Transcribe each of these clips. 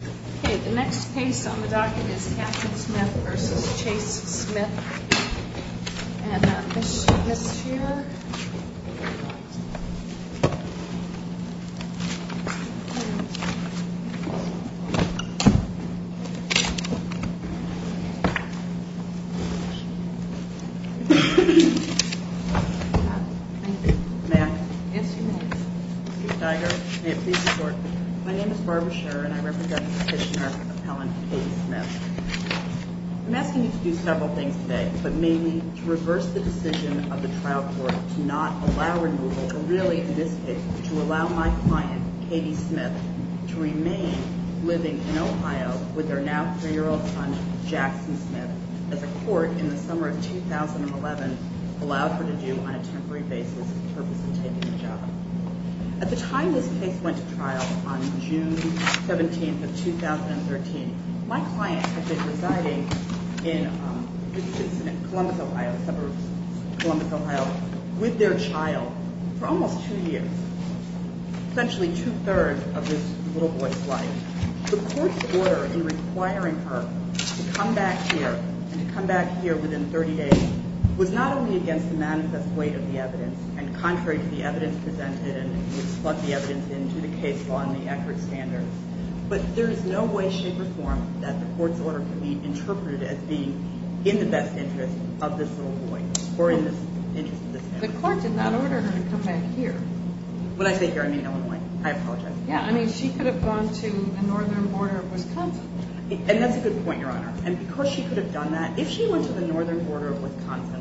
Okay, the next case on the docket is Katherine Smith v. Chase Smith. And this year... May I? Yes, you may. Chief Steiger, may it please the Court, my name is Barbara Scher, and I represent Petitioner Appellant Katie Smith. I'm asking you to do several things today, but mainly to reverse the decision of the trial court to not allow removal, but really in this case, to allow my client, Katie Smith, to remain living in Ohio with her now 3-year-old son, Jackson Smith, as a court in the summer of 2011 allowed her to do on a temporary basis in purpose of taking the job. At the time this case went to trial on June 17th of 2013, my client had been residing in Columbus, Ohio, a suburb of Columbus, Ohio, with their child for almost 2 years, essentially two-thirds of this little boy's life. The court's order in requiring her to come back here, and to come back here within 30 days, was not only against the manifest weight of the evidence, and contrary to the evidence presented, and we've plugged the evidence into the case law and the accurate standards, but there is no way, shape, or form that the court's order could be interpreted as being in the best interest of this little boy, or in the interest of this man. The court did not order her to come back here. When I say here, I mean Illinois. I apologize. Yeah, I mean, she could have gone to the northern border of Wisconsin. And that's a good point, Your Honor. And because she could have done that, if she went to the northern border of Wisconsin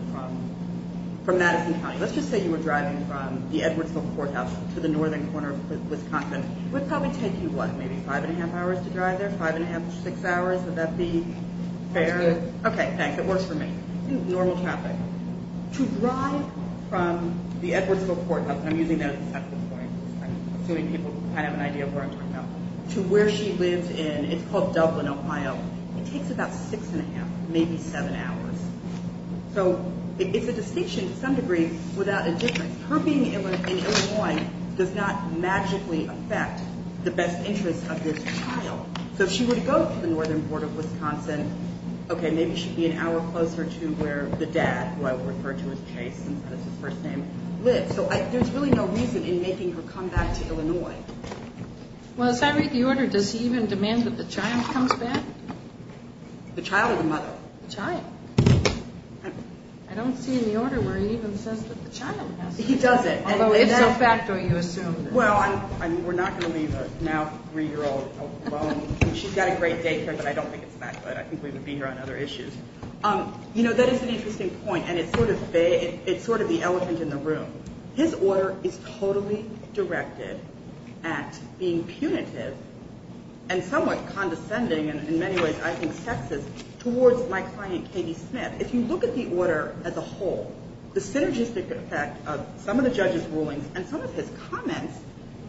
from Madison County, let's just say you were driving from the Edwardsville Courthouse to the northern corner of Wisconsin, it would probably take you, what, maybe 5 1⁄2 hours to drive there, 5 1⁄2 to 6 hours? Would that be fair? It's good. Okay, thanks. It works for me. Normal traffic. To drive from the Edwardsville Courthouse, and I'm using that as a sense of authority, assuming people kind of have an idea of where I'm talking about, to where she lives in, it's called Dublin, Ohio, it takes about 6 1⁄2, maybe 7 hours. So it's a distinction to some degree without a difference. Her being in Illinois does not magically affect the best interest of this child. So if she were to go to the northern border of Wisconsin, okay, maybe she'd be an hour closer to where the dad, who I would refer to as Chase since that's his first name, lives. So there's really no reason in making her come back to Illinois. Well, as I read the order, does he even demand that the child comes back? The child or the mother? The child. I don't see in the order where he even says that the child has to come back. He doesn't. Although, if so, back, don't you assume? Well, we're not going to leave a now 3-year-old alone. She's got a great day here, but I don't think it's that good. I think we would be here on other issues. You know, that is an interesting point, and it's sort of the elephant in the room. His order is totally directed at being punitive and somewhat condescending, and in many ways I think sexist, towards my client Katie Smith. If you look at the order as a whole, the synergistic effect of some of the judge's rulings and some of his comments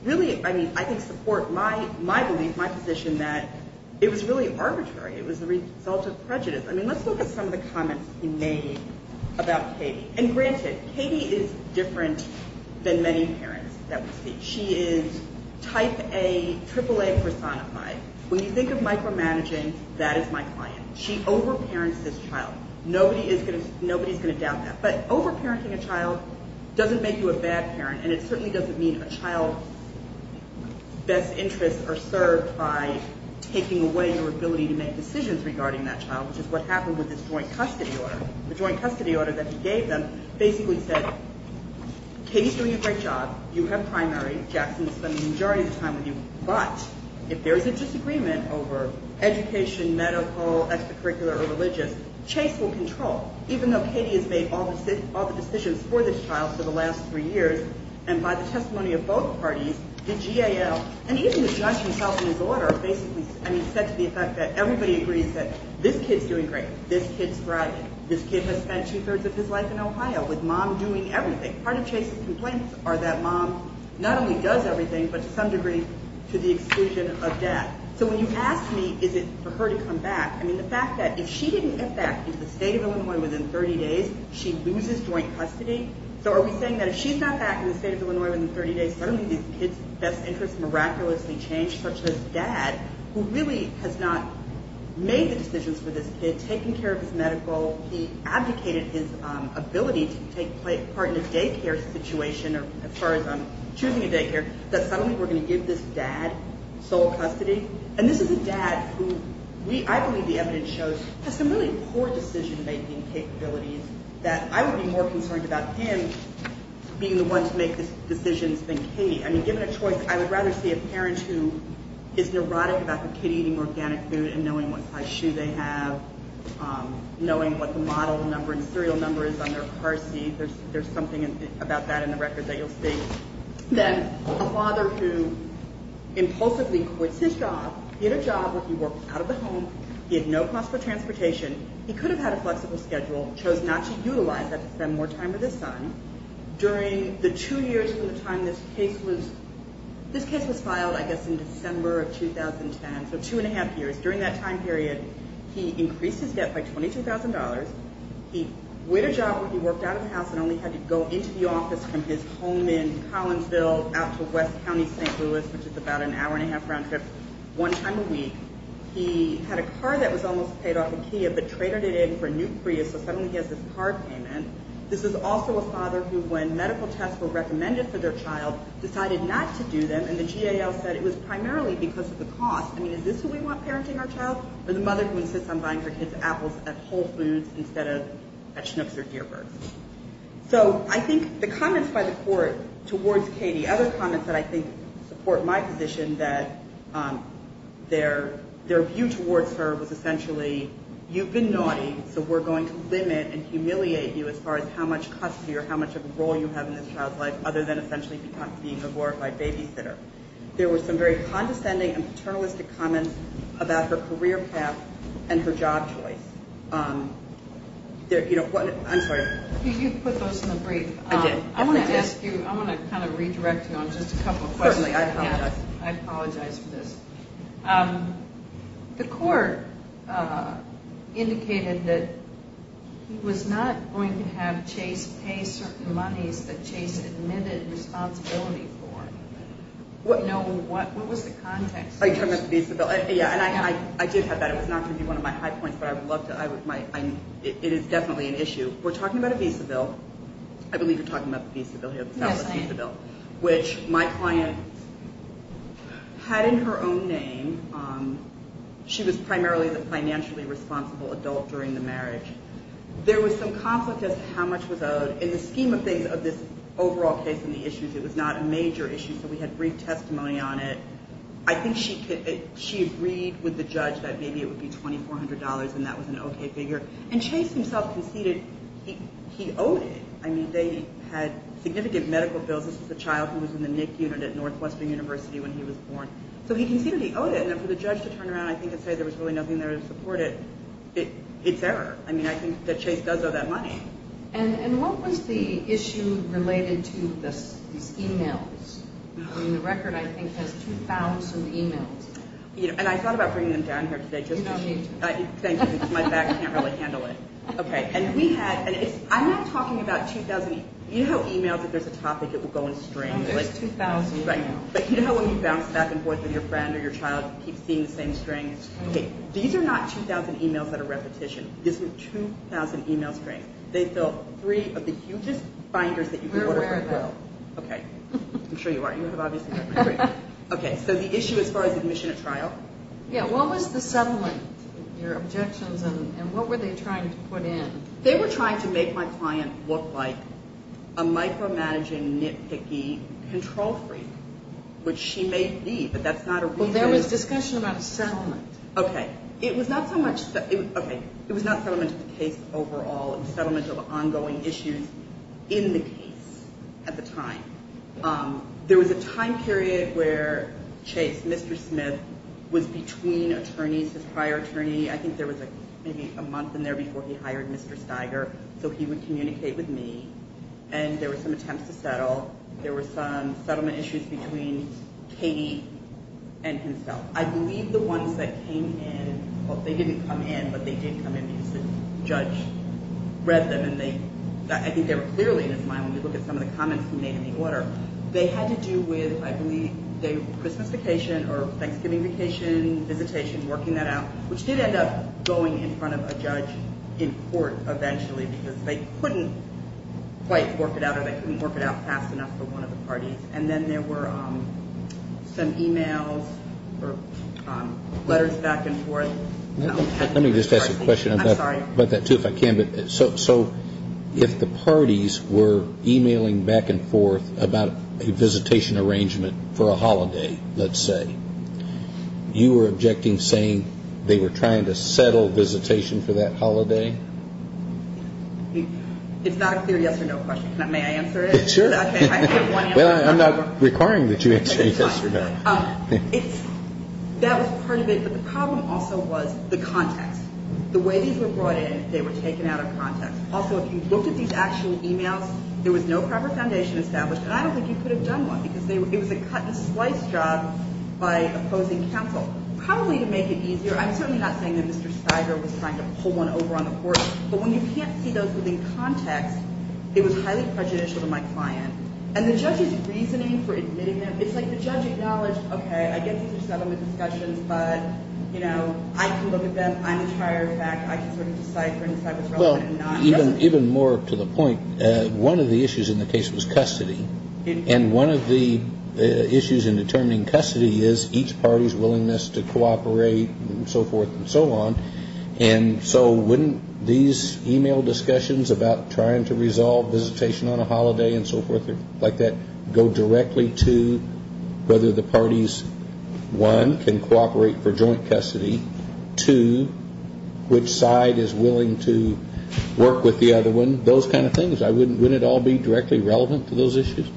really, I mean, I think support my belief, my position, that it was really arbitrary. It was the result of prejudice. I mean, let's look at some of the comments he made about Katie. And granted, Katie is different than many parents that we see. She is type A, triple A personified. When you think of micromanaging, that is my client. She overparents this child. Nobody is going to doubt that. But overparenting a child doesn't make you a bad parent, and it certainly doesn't mean a child's best interests are served by taking away your ability to make decisions regarding that child, which is what happened with this joint custody order. The joint custody order that he gave them basically said, Katie is doing a great job. You have primary. Jackson is spending the majority of the time with you. But if there is a disagreement over education, medical, extracurricular, or religious, Chase will control, even though Katie has made all the decisions for this child for the last three years. And by the testimony of both parties, the GAL, and even the judge himself in his order basically said to the effect that everybody agrees that this kid is doing great. This kid is thriving. This kid has spent two-thirds of his life in Ohio with Mom doing everything. Part of Chase's complaints are that Mom not only does everything but to some degree to the exclusion of Dad. So when you ask me is it for her to come back, I mean the fact that if she didn't get back into the state of Illinois within 30 days, she loses joint custody. So are we saying that if she's not back in the state of Illinois within 30 days, suddenly these kids' best interests miraculously change, such as Dad who really has not made the decisions for this kid, taken care of his medical, he abdicated his ability to take part in a daycare situation, as far as choosing a daycare, that suddenly we're going to give this Dad sole custody? And this is a Dad who I believe the evidence shows has some really poor decision-making capabilities that I would be more concerned about him being the one to make the decisions than Katie. I mean given a choice, I would rather see a parent who is neurotic about the kid eating organic food and knowing what size shoe they have, knowing what the model number and serial number is on their car seat. There's something about that in the record that you'll see. Then a father who impulsively quits his job, he had a job where he worked out of the home, he had no cost for transportation, he could have had a flexible schedule, chose not to utilize that to spend more time with his son. During the two years from the time this case was filed, I guess in December of 2010, so two and a half years, during that time period, he increased his debt by $22,000, he quit a job where he worked out of the house and only had to go into the office from his home in Collinsville out to West County, St. Louis, which is about an hour and a half round trip one time a week. He had a car that was almost paid off at Kia but traded it in for a new Prius, so suddenly he has this car payment. This is also a father who, when medical tests were recommended for their child, decided not to do them, and the GAL said it was primarily because of the cost. I mean is this who we want parenting our child? Or the mother who insists on buying her kids apples at Whole Foods instead of at Schnucks or Dearburg's? So I think the comments by the court towards Katie, other comments that I think support my position, that their view towards her was essentially, you've been naughty, so we're going to limit and humiliate you as far as how much custody or how much of a role you have in this child's life, other than essentially being a glorified babysitter. There were some very condescending and paternalistic comments about her career path and her job choice. I'm sorry. You put those in the brief. I did. I want to ask you, I want to kind of redirect you on just a couple of questions. Certainly, I apologize. I apologize for this. The court indicated that he was not going to have Chase pay certain monies that Chase admitted responsibility for. What was the context? Are you talking about the visa bill? Yeah, and I did have that. It was not going to be one of my high points, but it is definitely an issue. We're talking about a visa bill. I believe you're talking about the visa bill here. Yes, I am. Which my client had in her own name. She was primarily the financially responsible adult during the marriage. There was some conflict as to how much was owed. In the scheme of things, of this overall case and the issues, it was not a major issue, so we had brief testimony on it. I think she agreed with the judge that maybe it would be $2,400 and that was an okay figure. Chase himself conceded he owed it. They had significant medical bills. This was a child who was in the NIC unit at Northwestern University when he was born. He conceded he owed it. For the judge to turn around and say there was really nothing there to support it, it's error. I think that Chase does owe that money. What was the issue related to these e-mails? The record, I think, has 2,000 e-mails. I thought about bringing them down here today. You don't need to. Thank you, because my back can't really handle it. I'm not talking about 2,000 e-mails. You know how e-mails, if there's a topic, it will go in strings? There's 2,000 e-mails. You know how when you bounce back and forth with your friend or your child and keep seeing the same strings? These are not 2,000 e-mails that are repetition. These are 2,000 e-mail strings. They fill three of the hugest binders that you can order for a girl. Okay. I'm sure you are. You have obviously heard my story. Okay, so the issue as far as admission at trial? Yeah, what was the settlement, your objections, and what were they trying to put in? They were trying to make my client look like a micromanaging nitpicky control freak, which she may be, but that's not a reason. Well, there was discussion about settlement. Okay. It was not settlement of the case overall. It was settlement of ongoing issues in the case at the time. There was a time period where Chase, Mr. Smith, was between attorneys, his prior attorney. I think there was maybe a month in there before he hired Mr. Steiger, so he would communicate with me, and there were some attempts to settle. There were some settlement issues between Katie and himself. I believe the ones that came in, well, they didn't come in, but they did come in because the judge read them, and I think they were clearly in his mind when you look at some of the comments he made in the order. They had to do with, I believe, Christmas vacation or Thanksgiving vacation, visitation, working that out, which did end up going in front of a judge in court eventually, because they couldn't quite work it out or they couldn't work it out fast enough for one of the parties. And then there were some e-mails or letters back and forth. Let me just ask a question about that, too, if I can. So if the parties were e-mailing back and forth about a visitation arrangement for a holiday, let's say, you were objecting saying they were trying to settle visitation for that holiday? It's not a clear yes or no question. May I answer it? Sure. Well, I'm not requiring that you answer yes or no. That was part of it, but the problem also was the context. The way these were brought in, they were taken out of context. Also, if you looked at these actual e-mails, there was no proper foundation established, and I don't think you could have done one because it was a cut-and-slice job by opposing counsel. Probably to make it easier, I'm certainly not saying that Mr. Stiger was trying to pull one over on the court, but when you can't see those within context, it was highly prejudicial to my client. And the judge's reasoning for admitting them, it's like the judge acknowledged, okay, I get these are settlement discussions, but I can look at them. I'm tired. In fact, I can sort of decide for myself if it's relevant or not. Well, even more to the point, one of the issues in the case was custody, and one of the issues in determining custody is each party's willingness to cooperate and so forth and so on. And so wouldn't these e-mail discussions about trying to resolve visitation on a holiday and so forth like that go directly to whether the parties, one, can cooperate for joint custody, two, which side is willing to work with the other one, those kind of things. Wouldn't it all be directly relevant to those issues?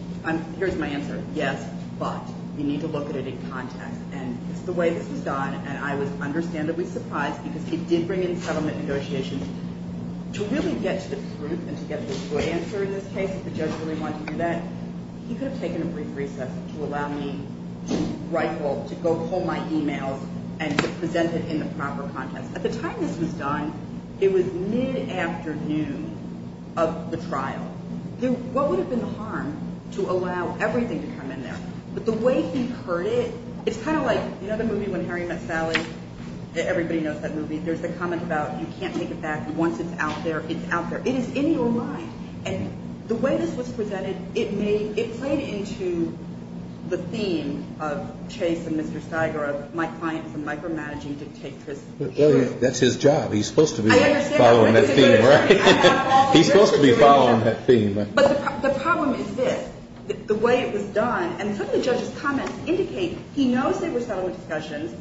Here's my answer. Yes, but you need to look at it in context. And the way this was done, and I was understandably surprised because it did bring in settlement negotiations. To really get to the truth and to get the true answer in this case, if the judge really wanted to do that, he could have taken a brief recess to allow me to go pull my e-mails and to present it in the proper context. At the time this was done, it was mid-afternoon of the trial. What would have been the harm to allow everything to come in there? But the way he heard it, it's kind of like, you know the movie When Harry Met Sally? Everybody knows that movie. There's the comment about you can't take it back. Once it's out there, it's out there. It is in your mind. And the way this was presented, it played into the theme of Chase and Mr. Steiger of my client from micromanaging dictatorship. That's his job. He's supposed to be following that theme. He's supposed to be following that theme. But the problem is this. The way it was done, and some of the judge's comments indicate he knows there were settlement discussions.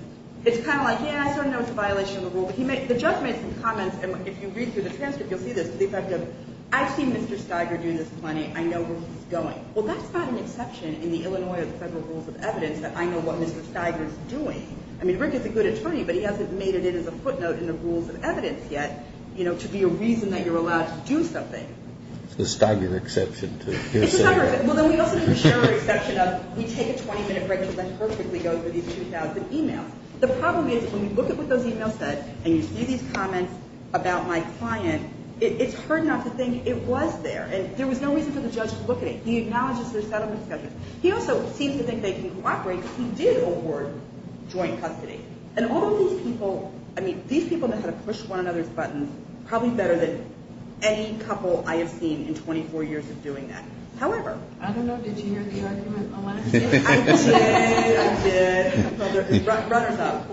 It's kind of like, yeah, I sort of know it's a violation of the rule. But the judge made some comments, and if you read through the transcript, you'll see this, to the effect of, I've seen Mr. Steiger doing this plenty. I know where he's going. Well, that's not an exception in the Illinois Federal Rules of Evidence that I know what Mr. Steiger's doing. I mean, Rick is a good attorney, but he hasn't made it in as a footnote in the Rules of Evidence yet, you know, to be a reason that you're allowed to do something. It's the Steiger exception. It's the Steiger exception. Well, then we also have the Scherer exception of we take a 20-minute break because that perfectly goes with these 2,000 emails. The problem is, when you look at what those emails said and you see these comments about my client, it's hard enough to think it was there. And there was no reason for the judge to look at it. He acknowledges there's settlement discussions. He also seems to think they can cooperate because he did hold for joint custody. And all of these people, I mean, these people know how to push one another's buttons probably better than any couple I have seen in 24 years of doing that. However... I don't know, did you hear the argument on Wednesday? I did, I did. Runner's up.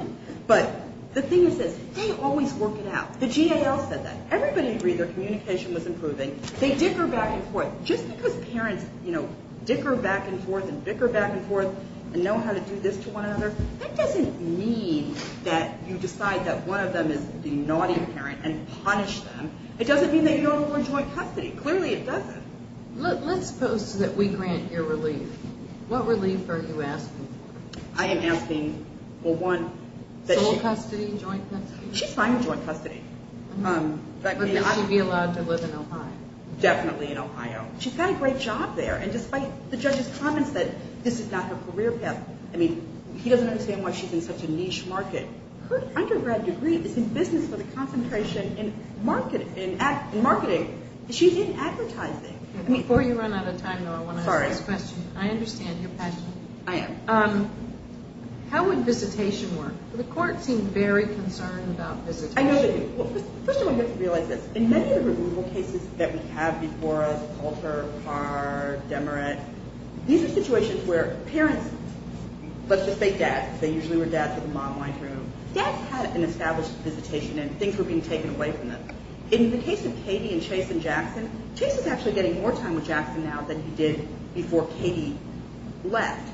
But the thing is this, they always work it out. The GAL said that. Everybody agreed their communication was improving. They dicker back and forth. Just because parents, you know, dicker back and forth and dicker back and forth and know how to do this to one another, that doesn't mean that you decide that one of them is the naughty parent and punish them. It doesn't mean that you don't award joint custody. Clearly it doesn't. Let's suppose that we grant your relief. What relief are you asking for? I am asking for one... Sole custody, joint custody? She's fine with joint custody. But may she be allowed to live in Ohio? Definitely in Ohio. She's got a great job there. And despite the judge's comments that this is not her career path, I mean, he doesn't understand why she's in such a niche market. Her undergrad degree is in business with a concentration in marketing. She's in advertising. Before you run out of time, though, I want to ask this question. Sorry. I understand your passion. I am. How would visitation work? The court seemed very concerned about visitation. I know they did. First of all, you have to realize this. In many of the removal cases that we have before us, Altar, Carr, Demaret, these are situations where parents, let's just say dads, they usually were dads with a mom, dads had an established visitation and things were being taken away from them. In the case of Katie and Chase and Jackson, Chase is actually getting more time with Jackson now than he did before Katie left.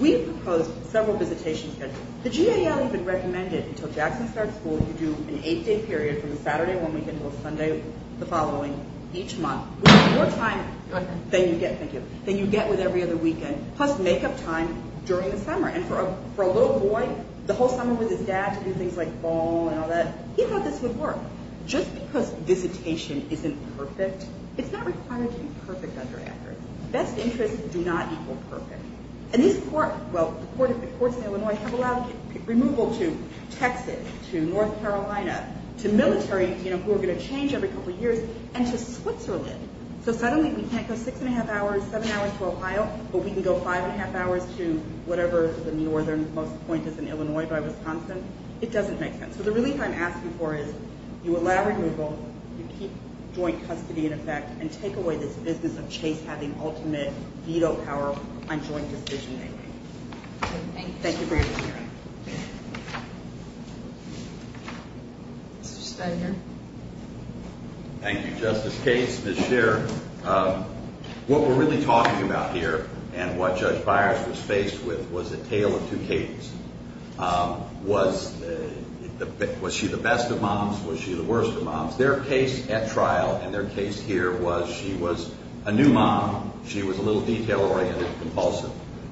We've proposed several visitation schedules. The GAL even recommended, until Jackson starts school, you do an eight-day period from the Saturday one weekend until Sunday the following each month, which is more time than you get with every other weekend, plus make-up time during the summer. And for a little boy, the whole summer with his dad to do things like ball and all that, he thought this would work. Just because visitation isn't perfect, it's not required to be perfect under Actors. Best interests do not equal perfect. And these courts in Illinois have allowed removal to Texas, to North Carolina, to military, who are going to change every couple of years, and to Switzerland. So suddenly we can't go six and a half hours, seven hours to Ohio, but we can go five and a half hours to whatever the northernmost point is in Illinois, by Wisconsin. It doesn't make sense. So the relief I'm asking for is you allow removal, you keep joint custody in effect, and take away this business of Chase having ultimate veto power on joint decision-making. Thank you for your time. Mr. Stegner. Thank you, Justice Cates, Ms. Scherer. What we're really talking about here, and what Judge Byers was faced with, was a tale of two Cates. Was she the best of moms? Was she the worst of moms? Their case at trial, and their case here, was she was a new mom,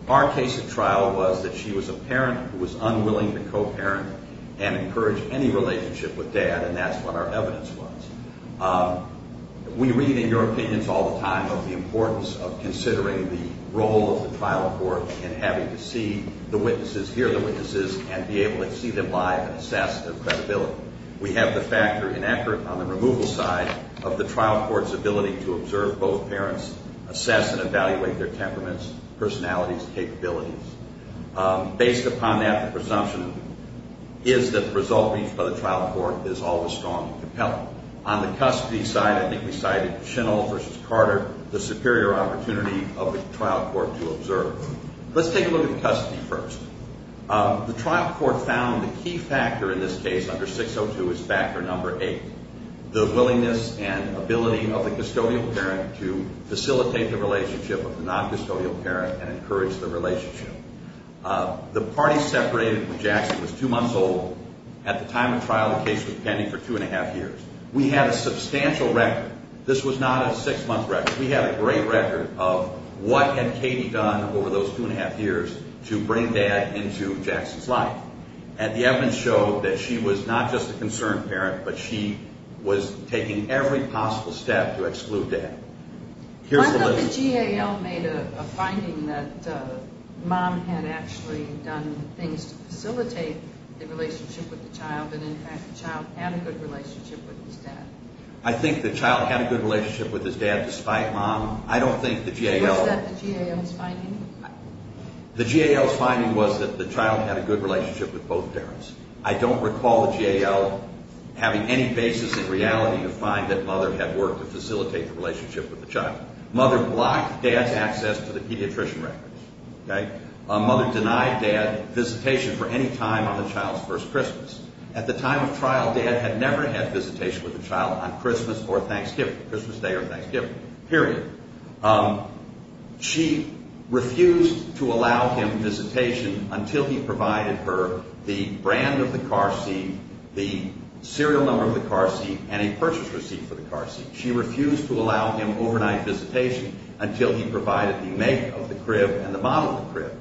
Our case at trial was that she was a parent who was unwilling to co-parent and encourage any relationship with dad, and that's what our evidence was. We read in your opinions all the time of the importance of considering the role of the trial court in having to see the witnesses, hear the witnesses, and be able to see them live and assess their credibility. We have the factor in effort on the removal side of the trial court's ability to observe both parents, assess and evaluate their temperaments, personalities, capabilities. Based upon that, the presumption is that the result reached by the trial court is always strong and compelling. On the custody side, I think we cited Schindle versus Carter, the superior opportunity of the trial court to observe. Let's take a look at the custody first. The trial court found the key factor in this case under 602 is factor number eight, the willingness and ability of the custodial parent to facilitate the relationship of the non-custodial parent and encourage the relationship. The party separated with Jackson was two months old. At the time of trial, the case was pending for two and a half years. We had a substantial record. This was not a six-month record. We had a great record of what had Katie done over those two and a half years to bring Dad into Jackson's life. And the evidence showed that she was not just a concerned parent, but she was taking every possible step to exclude Dad. I thought the GAL made a finding that Mom had actually done things to facilitate the relationship with the child, and in fact the child had a good relationship with his dad. I think the child had a good relationship with his dad despite Mom. I don't think the GAL... Was that the GAL's finding? The GAL's finding was that the child had a good relationship with both parents. I don't recall the GAL having any basis in reality to find that Mother had worked to facilitate the relationship with the child. Mother blocked Dad's access to the pediatrician records. Mother denied Dad visitation for any time on the child's first Christmas. At the time of trial, Dad had never had visitation with the child on Christmas or Thanksgiving, Christmas Day or Thanksgiving, period. She refused to allow him visitation until he provided her the brand of the car seat, the serial number of the car seat, and a purchase receipt for the car seat. She refused to allow him overnight visitation until he provided the make of the crib and the model of the crib.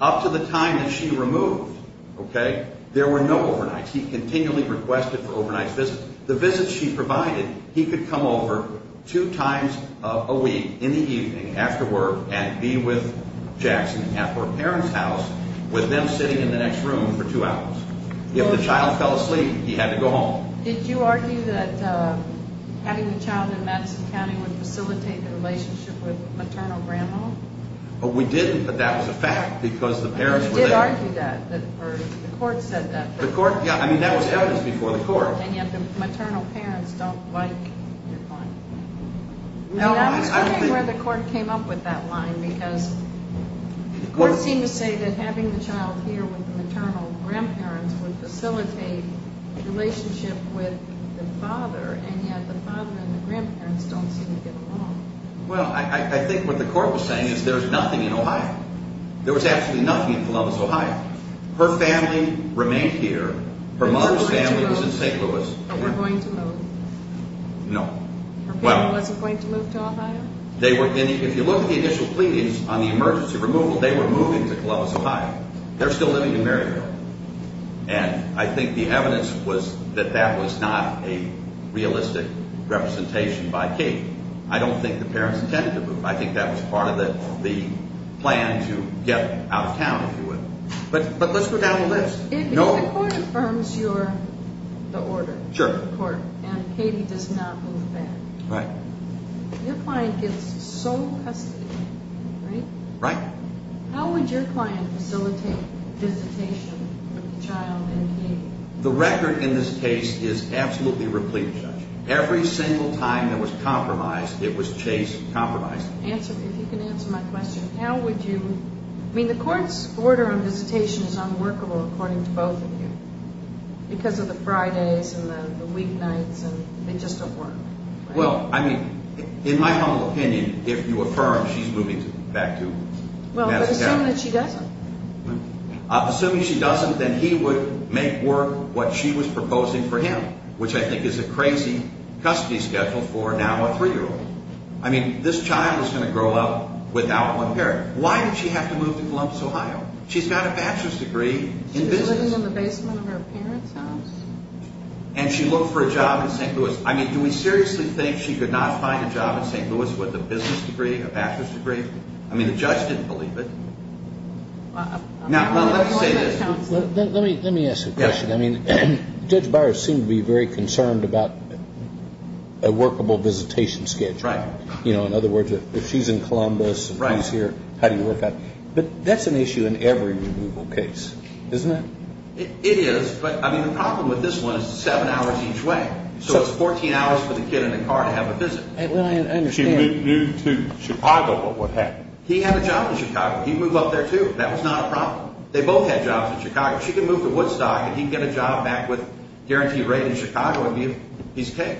Up to the time that she removed, okay, there were no overnights. He continually requested for overnight visits. The visits she provided, he could come over two times a week in the evening after work and be with Jackson at her parents' house with them sitting in the next room for two hours. If the child fell asleep, he had to go home. Did you argue that having the child in Madison County would facilitate the relationship with maternal grandma? Oh, we didn't, but that was a fact because the parents were there. You did argue that, or the court said that. The court, yeah, I mean, that was evidence before the court. And yet the maternal parents don't like your client. No, I think... And I was wondering where the court came up with that line because the court seemed to say that having the child here with the maternal grandparents would facilitate the relationship with the father, and yet the father and the grandparents don't seem to get along. Well, I think what the court was saying is there's nothing in Ohio. There was absolutely nothing in Columbus, Ohio. Her family remained here. Her mother's family was in St. Louis. Were they going to move? Were they going to move? No. Her family wasn't going to move to Ohio? They were... If you look at the initial pleadings on the emergency removal, they were moving to Columbus, Ohio. They're still living in Maryville. And I think the evidence was that that was not a realistic representation by Katie. I don't think the parents intended to move. I think that was part of the plan to get out of town, if you will. But let's go down the list. If the court affirms you're the order... Sure. ...and Katie does not move back... Right. ...your client gets sole custody, right? Right. How would your client facilitate visitation of the child and Katie? The record in this case is absolutely replete, Judge. Every single time there was compromise, it was case compromised. Answer... If you can answer my question, how would you... I mean, the court's order on visitation is unworkable, according to both of you, because of the Fridays and the weeknights, and they just don't work. Well, I mean, in my humble opinion, if you affirm she's moving back to Massachusetts... Well, but assume that she doesn't. Assuming she doesn't, then he would make work what she was proposing for him, which I think is a crazy custody schedule for now a three-year-old. I mean, this child is going to grow up without one parent. Why did she have to move to Columbus, Ohio? She's got a bachelor's degree in business. Is she living in the basement of her parents' house? And she looked for a job in St. Louis. I mean, do we seriously think she could not find a job in St. Louis with a business degree, a bachelor's degree? I mean, the judge didn't believe it. Now, let me say this. Let me ask a question. I mean, Judge Byers seemed to be very concerned about a workable visitation schedule. Right. You know, in other words, if she's in Columbus and he's here, how do you work out? But that's an issue in every removal case, isn't it? It is, but, I mean, the problem with this one is it's seven hours each way. for the kid in the car to have a visit. Well, I understand. If she moved to Chicago, what would happen? He had a job in Chicago. He'd move up there, too. That was not a problem. They both had jobs in Chicago. She could move to Woodstock and he'd get a job back with guaranteed rate in Chicago and be his cake.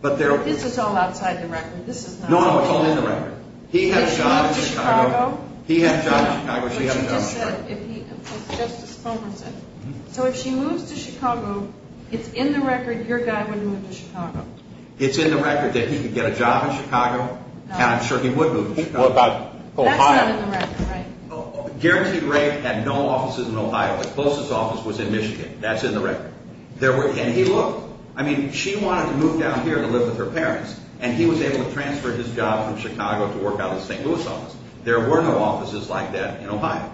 But there are... This is all outside the record. This is not outside the record. No, no, it's all in the record. He had a job in Chicago. He had a job in Chicago. She had a job in Chicago. But she just said, if he... Justice Fulmer said, so if she moves to Chicago, it's in the record your guy wouldn't move to Chicago. It's in the record that he could get a job in Chicago and I'm sure he would move to Chicago. What about Ohio? That's not in the record. Right. Guaranteed rate had no offices in Ohio. The closest office was in Michigan. That's in the record. And he looked. I mean, she wanted to move down here to live with her parents and he was able to transfer his job from Chicago to work out of the St. Louis office. There were no offices like that in Ohio.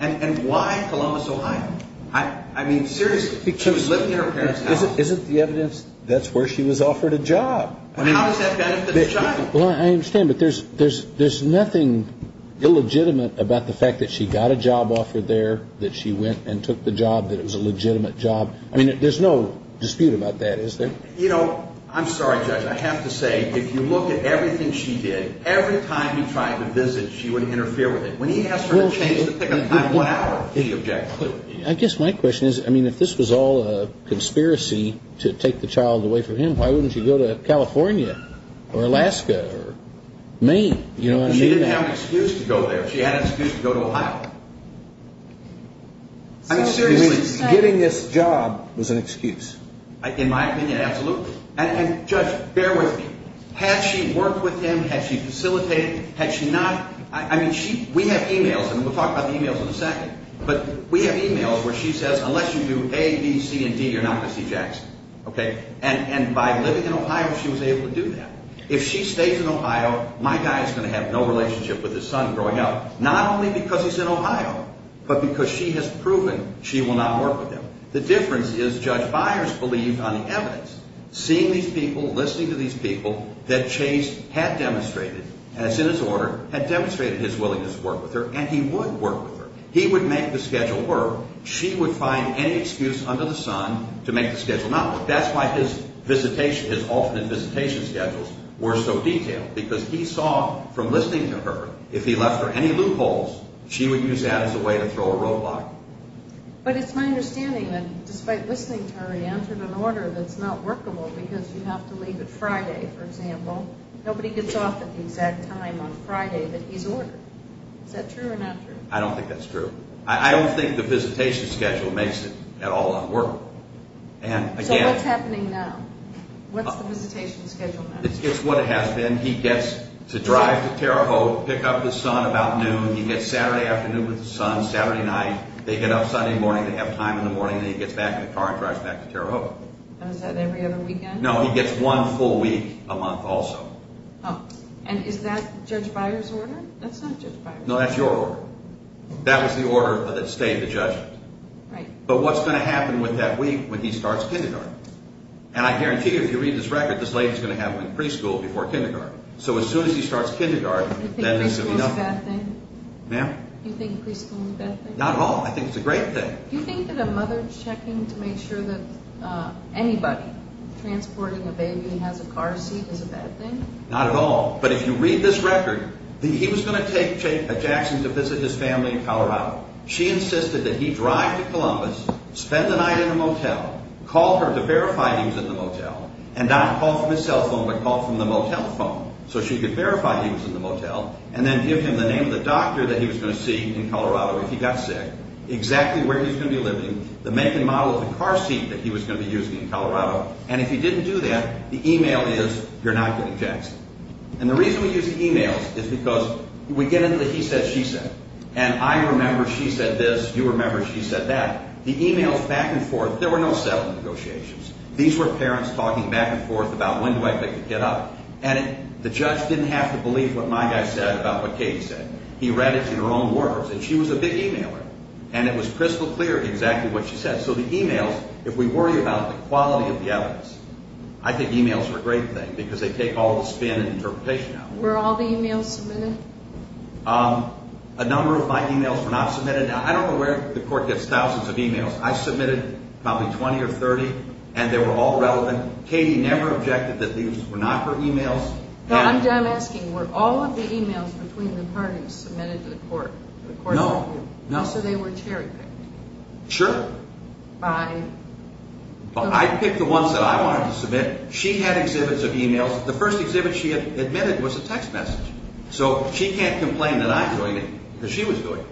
And why Columbus, Ohio? I mean, seriously. She was living in her parents' house. Isn't the evidence that's where she was offered a job? I mean, how does that benefit the child? Well, I understand, but there's nothing illegitimate about the fact that she got a job offered there, that she went and took the job, that it was a legitimate job. I mean, there's no dispute about that, is there? You know, I'm sorry, Judge. I have to say, if you look at everything she did, every time he tried to visit, she wouldn't interfere with it. When he asked her to change the pick-up time one hour, he objected. I guess my question is, I mean, if this was all a conspiracy to take the child away from him, why wouldn't she go to California or Alaska or Maine? You know what I mean? She didn't have an excuse to go there. She had an excuse to go to Ohio. I mean, seriously. You mean, getting this job was an excuse? In my opinion, absolutely. And, Judge, bear with me. Had she worked with him? Had she facilitated? Had she not? I mean, we have e-mails, and we'll talk about the e-mails in a second, but we have e-mails where she says, unless you do A, B, C, and D, you're not going to see Jackson. Okay? And by living in Ohio, she was able to do that. If she stays in Ohio, my guy is going to have no relationship with his son growing up, not only because he's in Ohio, but because she has proven she will not work with him. The difference is, Judge Byers believed on the evidence, seeing these people, listening to these people, that Chase had demonstrated, as in his order, had demonstrated his willingness to work with her, and he would work with her. He would make the schedule work. She would find any excuse under the sun to make the schedule. Now, look, that's why his visitation, his alternate visitation schedules were so detailed, because he saw from listening to her, if he left her any loopholes, she would use that as a way to throw a roadblock. But it's my understanding that despite listening to her, he entered an order that's not workable because you have to leave it Friday, for example. Nobody gets off at the exact time on Friday that he's ordered. Is that true or not true? I don't think that's true. I don't think the visitation schedule makes it at all unworkable. So what's happening now? What's the visitation schedule now? It's what it has been. He gets to drive to Terre Haute, pick up his son about noon. He gets Saturday afternoon with his son, Saturday night. They get up Sunday morning. They have time in the morning. Then he gets back in the car and drives back to Terre Haute. And is that every other weekend? No, he gets one full week a month also. And is that Judge Byers' order? That's not Judge Byers'. No, that's your order. That was the order that stayed the judgment. Right. But what's going to happen with that week when he starts kindergarten? And I guarantee you if you read this record, this lady's going to have him in preschool before kindergarten. So as soon as he starts kindergarten, that means there'll be nothing. Do you think preschool is a bad thing? Ma'am? Do you think preschool is a bad thing? Not at all. I think it's a great thing. Do you think that a mother checking to make sure that anybody transporting a baby has a car seat is a bad thing? Not at all. But if you read this record, he was going to take a Jackson to visit his family in Colorado. She insisted that he drive to Columbus, spend the night in a motel, call her to verify he was in the motel, and not call from his cell phone, but call from the motel phone so she could verify he was in the motel, and then give him the name of the doctor that he was going to see in Colorado if he got sick, exactly where he was going to be living, the make and model of the car seat that he was going to be using in Colorado, and if he didn't do that, the email is you're not getting Jackson. And the reason we use emails is because we get into the he said, she said, and I remember she said this, you remember she said that. The emails back and forth, there were no settlement negotiations. These were parents talking back and forth about when do I pick the kid up, and the judge didn't have to believe what my guy said about what Katie said. He read it in her own words, and she was a big emailer, and it was crystal clear exactly what she said. So the emails, if we worry about the quality of the evidence, I think emails are a great thing because they take all the spin and interpretation out. Were all the emails submitted? A number of my emails were not submitted. I don't know where the court gets thousands of emails. I submitted probably 20 or 30, and they were all relevant. Katie never objected that these were not her emails. I'm asking, were all of the emails between the parties submitted to the court? No. So they were cherry picked? Sure. By? I picked the ones that I wanted to submit. She had exhibits of emails. The first exhibit she had admitted was a text message. So she can't complain that I'm doing it because she was doing it.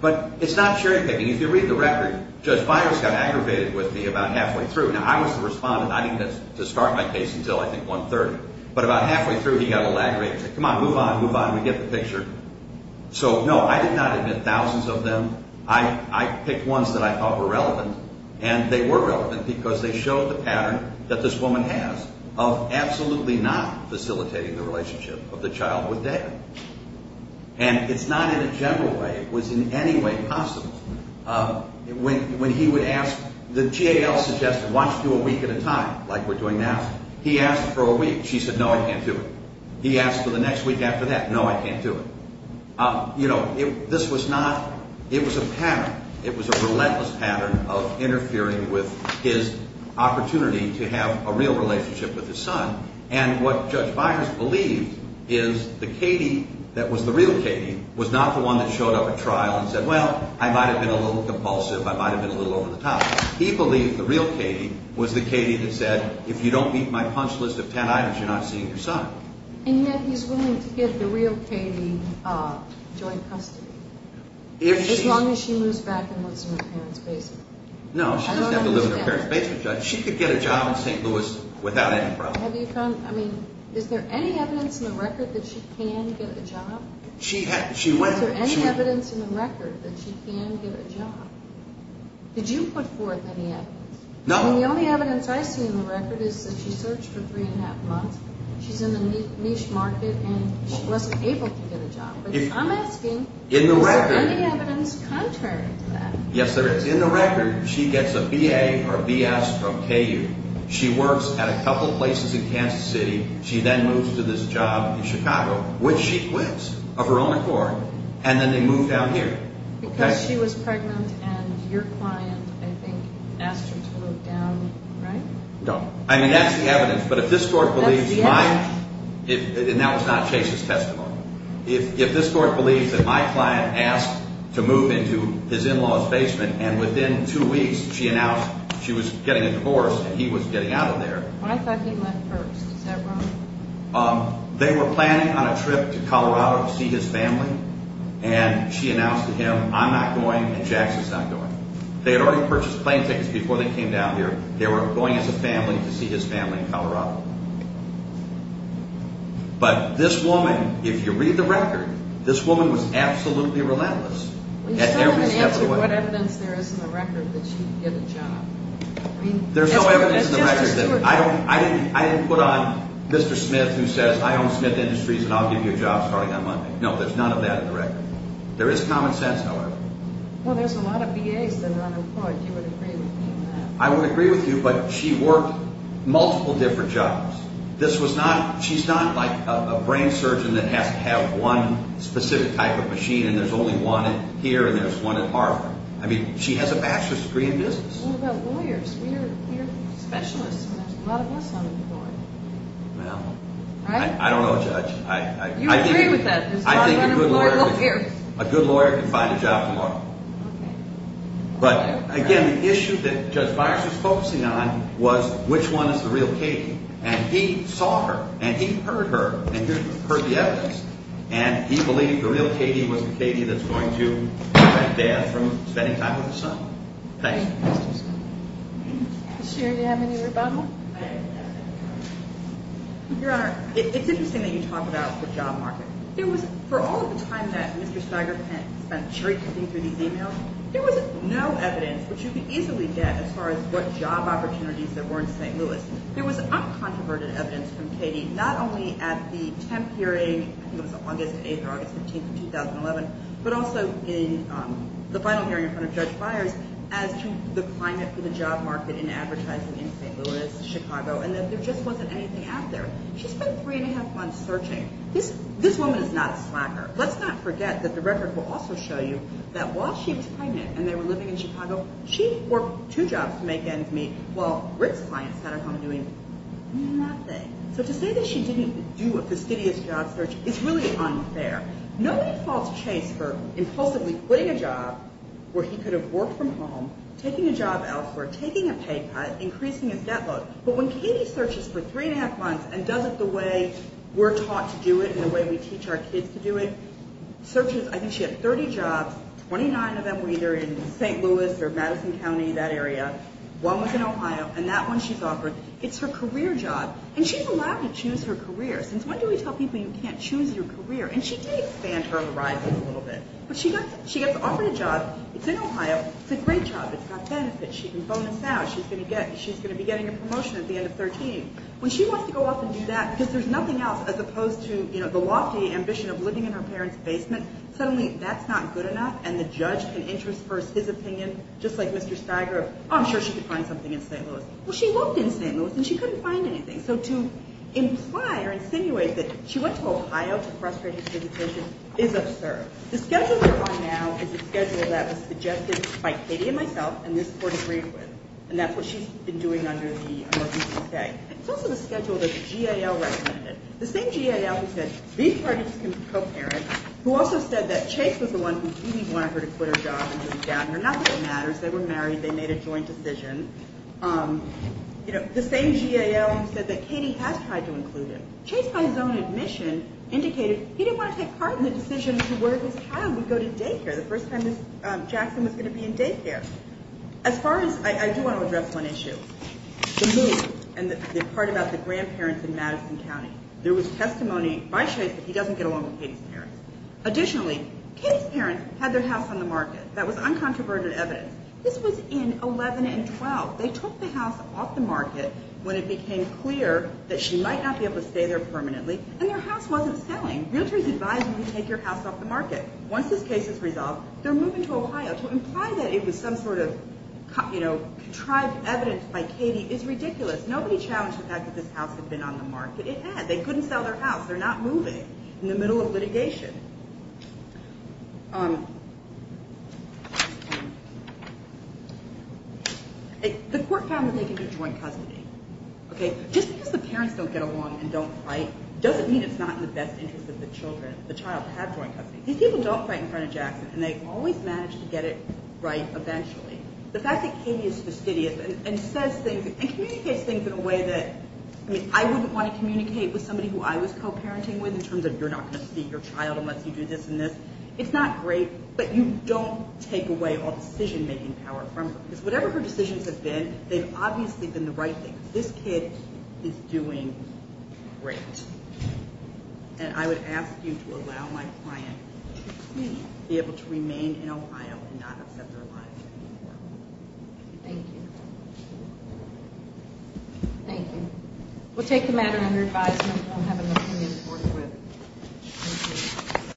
But it's not cherry picking. If you read the record, Judge Byers got aggravated with me about halfway through. Now I was the respondent. I didn't get to start my case until I think 130. But about halfway through, he got a little aggravated. He said, come on, move on, move on, we get the picture. So no, I did not admit that I was I was not facilitating the relationship of the child with David. And it's not in a general way. It was in any way possible. When he would ask, the GAL suggested, why don't you do a week at a time like we're doing now? He asked for a week. She said, no, I can't do it. He asked for the next week after that. No, I can't do it. This was not in a general way. It was a pattern. It was a relentless pattern of interfering with his opportunity to have a real relationship with his son. And what Judge Byers believed is the Katie that was the real Katie was not the one that showed up at trial and said, well, I might have been a little compulsive. I might have been a little over the top. He believed the real Katie was the Katie and said, well, I might have He said I might have been a little over the top. He said, well, maybe I was a little over the top and I might have been over the top bit lower Katie. was a over the top and I was a little over the top in my opinion. And I believe our opinion was exactly that. I think that's the evidence. But if this court believes my and that was not Chase's testimony. If this court believes that my client asked to move into his in-laws basement and within two weeks she announced she was getting a divorce and he was getting out of there. They were planning on a trip to Colorado. But this woman if you read the record was absolutely relentless. There's no evidence in the record. I didn't put on Mr. Smith who says I own Smith Industries and I'll give you a job starting on Monday. There is common sense however. There's a lot of BAs that are unemployed. You would agree with me on that. I would agree with you but she worked multiple different jobs. She's not like a brain surgeon that has to have one specific type of machine and there's only one here and there's one at Harvard. She has a bachelor's degree in law. But again the issue that Judge Byers was focusing on was which one is the real Katie? He saw her and he heard her and he heard the evidence and he believed the real Katie was the Katie that's going to prevent death from spending time with her son. Thank you. It's interesting that you talk about the job market. For all the time that Mr. Stiger spent chasing through the email there was no evidence which you could easily get as far as what job opportunities there were in St. Louis. There was uncontroverted evidence from Katie not only at the 10th of August but also in the final hearing in front of Judge Byers as to the climate for the job market in advertising in St. Louis, Chicago and that there just wasn't anything out there. She spent three and a half months searching. This woman is not a slacker. Let's not forget that the record will also show you that while she was pregnant and they were living in Chicago, she worked two jobs to make ends meet while Rick's clients sat at home doing nothing. So to say that she didn't do a fastidious job search is really unfair. Nobody falls chase for impulsively quitting a job where he could have worked from home, taking a job to do it the way we teach our kids to do it. Searches, I think she had 30 jobs, 29 of them were either in St. Louis or Madison County, that area. One was in Ohio and that one she's offered. It's her career job and she's allowed to choose her career. Since when do we tell people you can't choose your career? And she can expand her horizons a little bit. But she gets offered a job, it's in Ohio, it's a great job, it's got benefits, she can bonus out, she's going to be getting a promotion at the end of 13. When she wants to go off and do that, because there's nothing else as opposed to the lofty ambition of living in her parents' basement, suddenly that's not good enough and the judge can intersperse his opinion just like Mr. Steiger of I'm sure she could find something in St. Louis. Well, she looked in St. Louis and she couldn't find anything. So to imply or insinuate that she went to Ohio to frustrate his visitation is absurd. The schedule that we're on now is a schedule that was suggested by Katie and myself and this court agreed with. And that's what she's been doing under the emergency stay. It's also the schedule that the GAL recommended. The same GAL who said these parties can be co-parents who also said that Chase was the one who really wanted her to quit her job and move down here. Not that it matters. They were married. They made a joint decision. The same GAL said that Katie has tried to include him. Chase by his own admission indicated he didn't want to take part in the decision of where his child would go to day one. on the market. They had their house on the market. This was in 11 and 12. They took the house off the market when it became clear that she might not be able to stay there permanently and their house was not selling. To imply that it was some sort of contrived evidence by Katie is ridiculous. Nobody challenged the fact that this house had been on the market. It had. They couldn't sell their house. They're not moving in the middle of litigation. The court found that they could do joint custody. Just because the parents don't get along and don't fight doesn't mean it's not in the best interest of the children. These people don't fight in front of Jackson and they always manage to get it right eventually. The fact that Katie is fastidious and says things in a way that I wouldn't want to my children. This kid is doing great. And I would ask you to allow my client to please be able to remain in Ohio and not accept their life. Thank you. Thank you. We'll take the matter under advisement. We'll have an opinion forthwith. Thank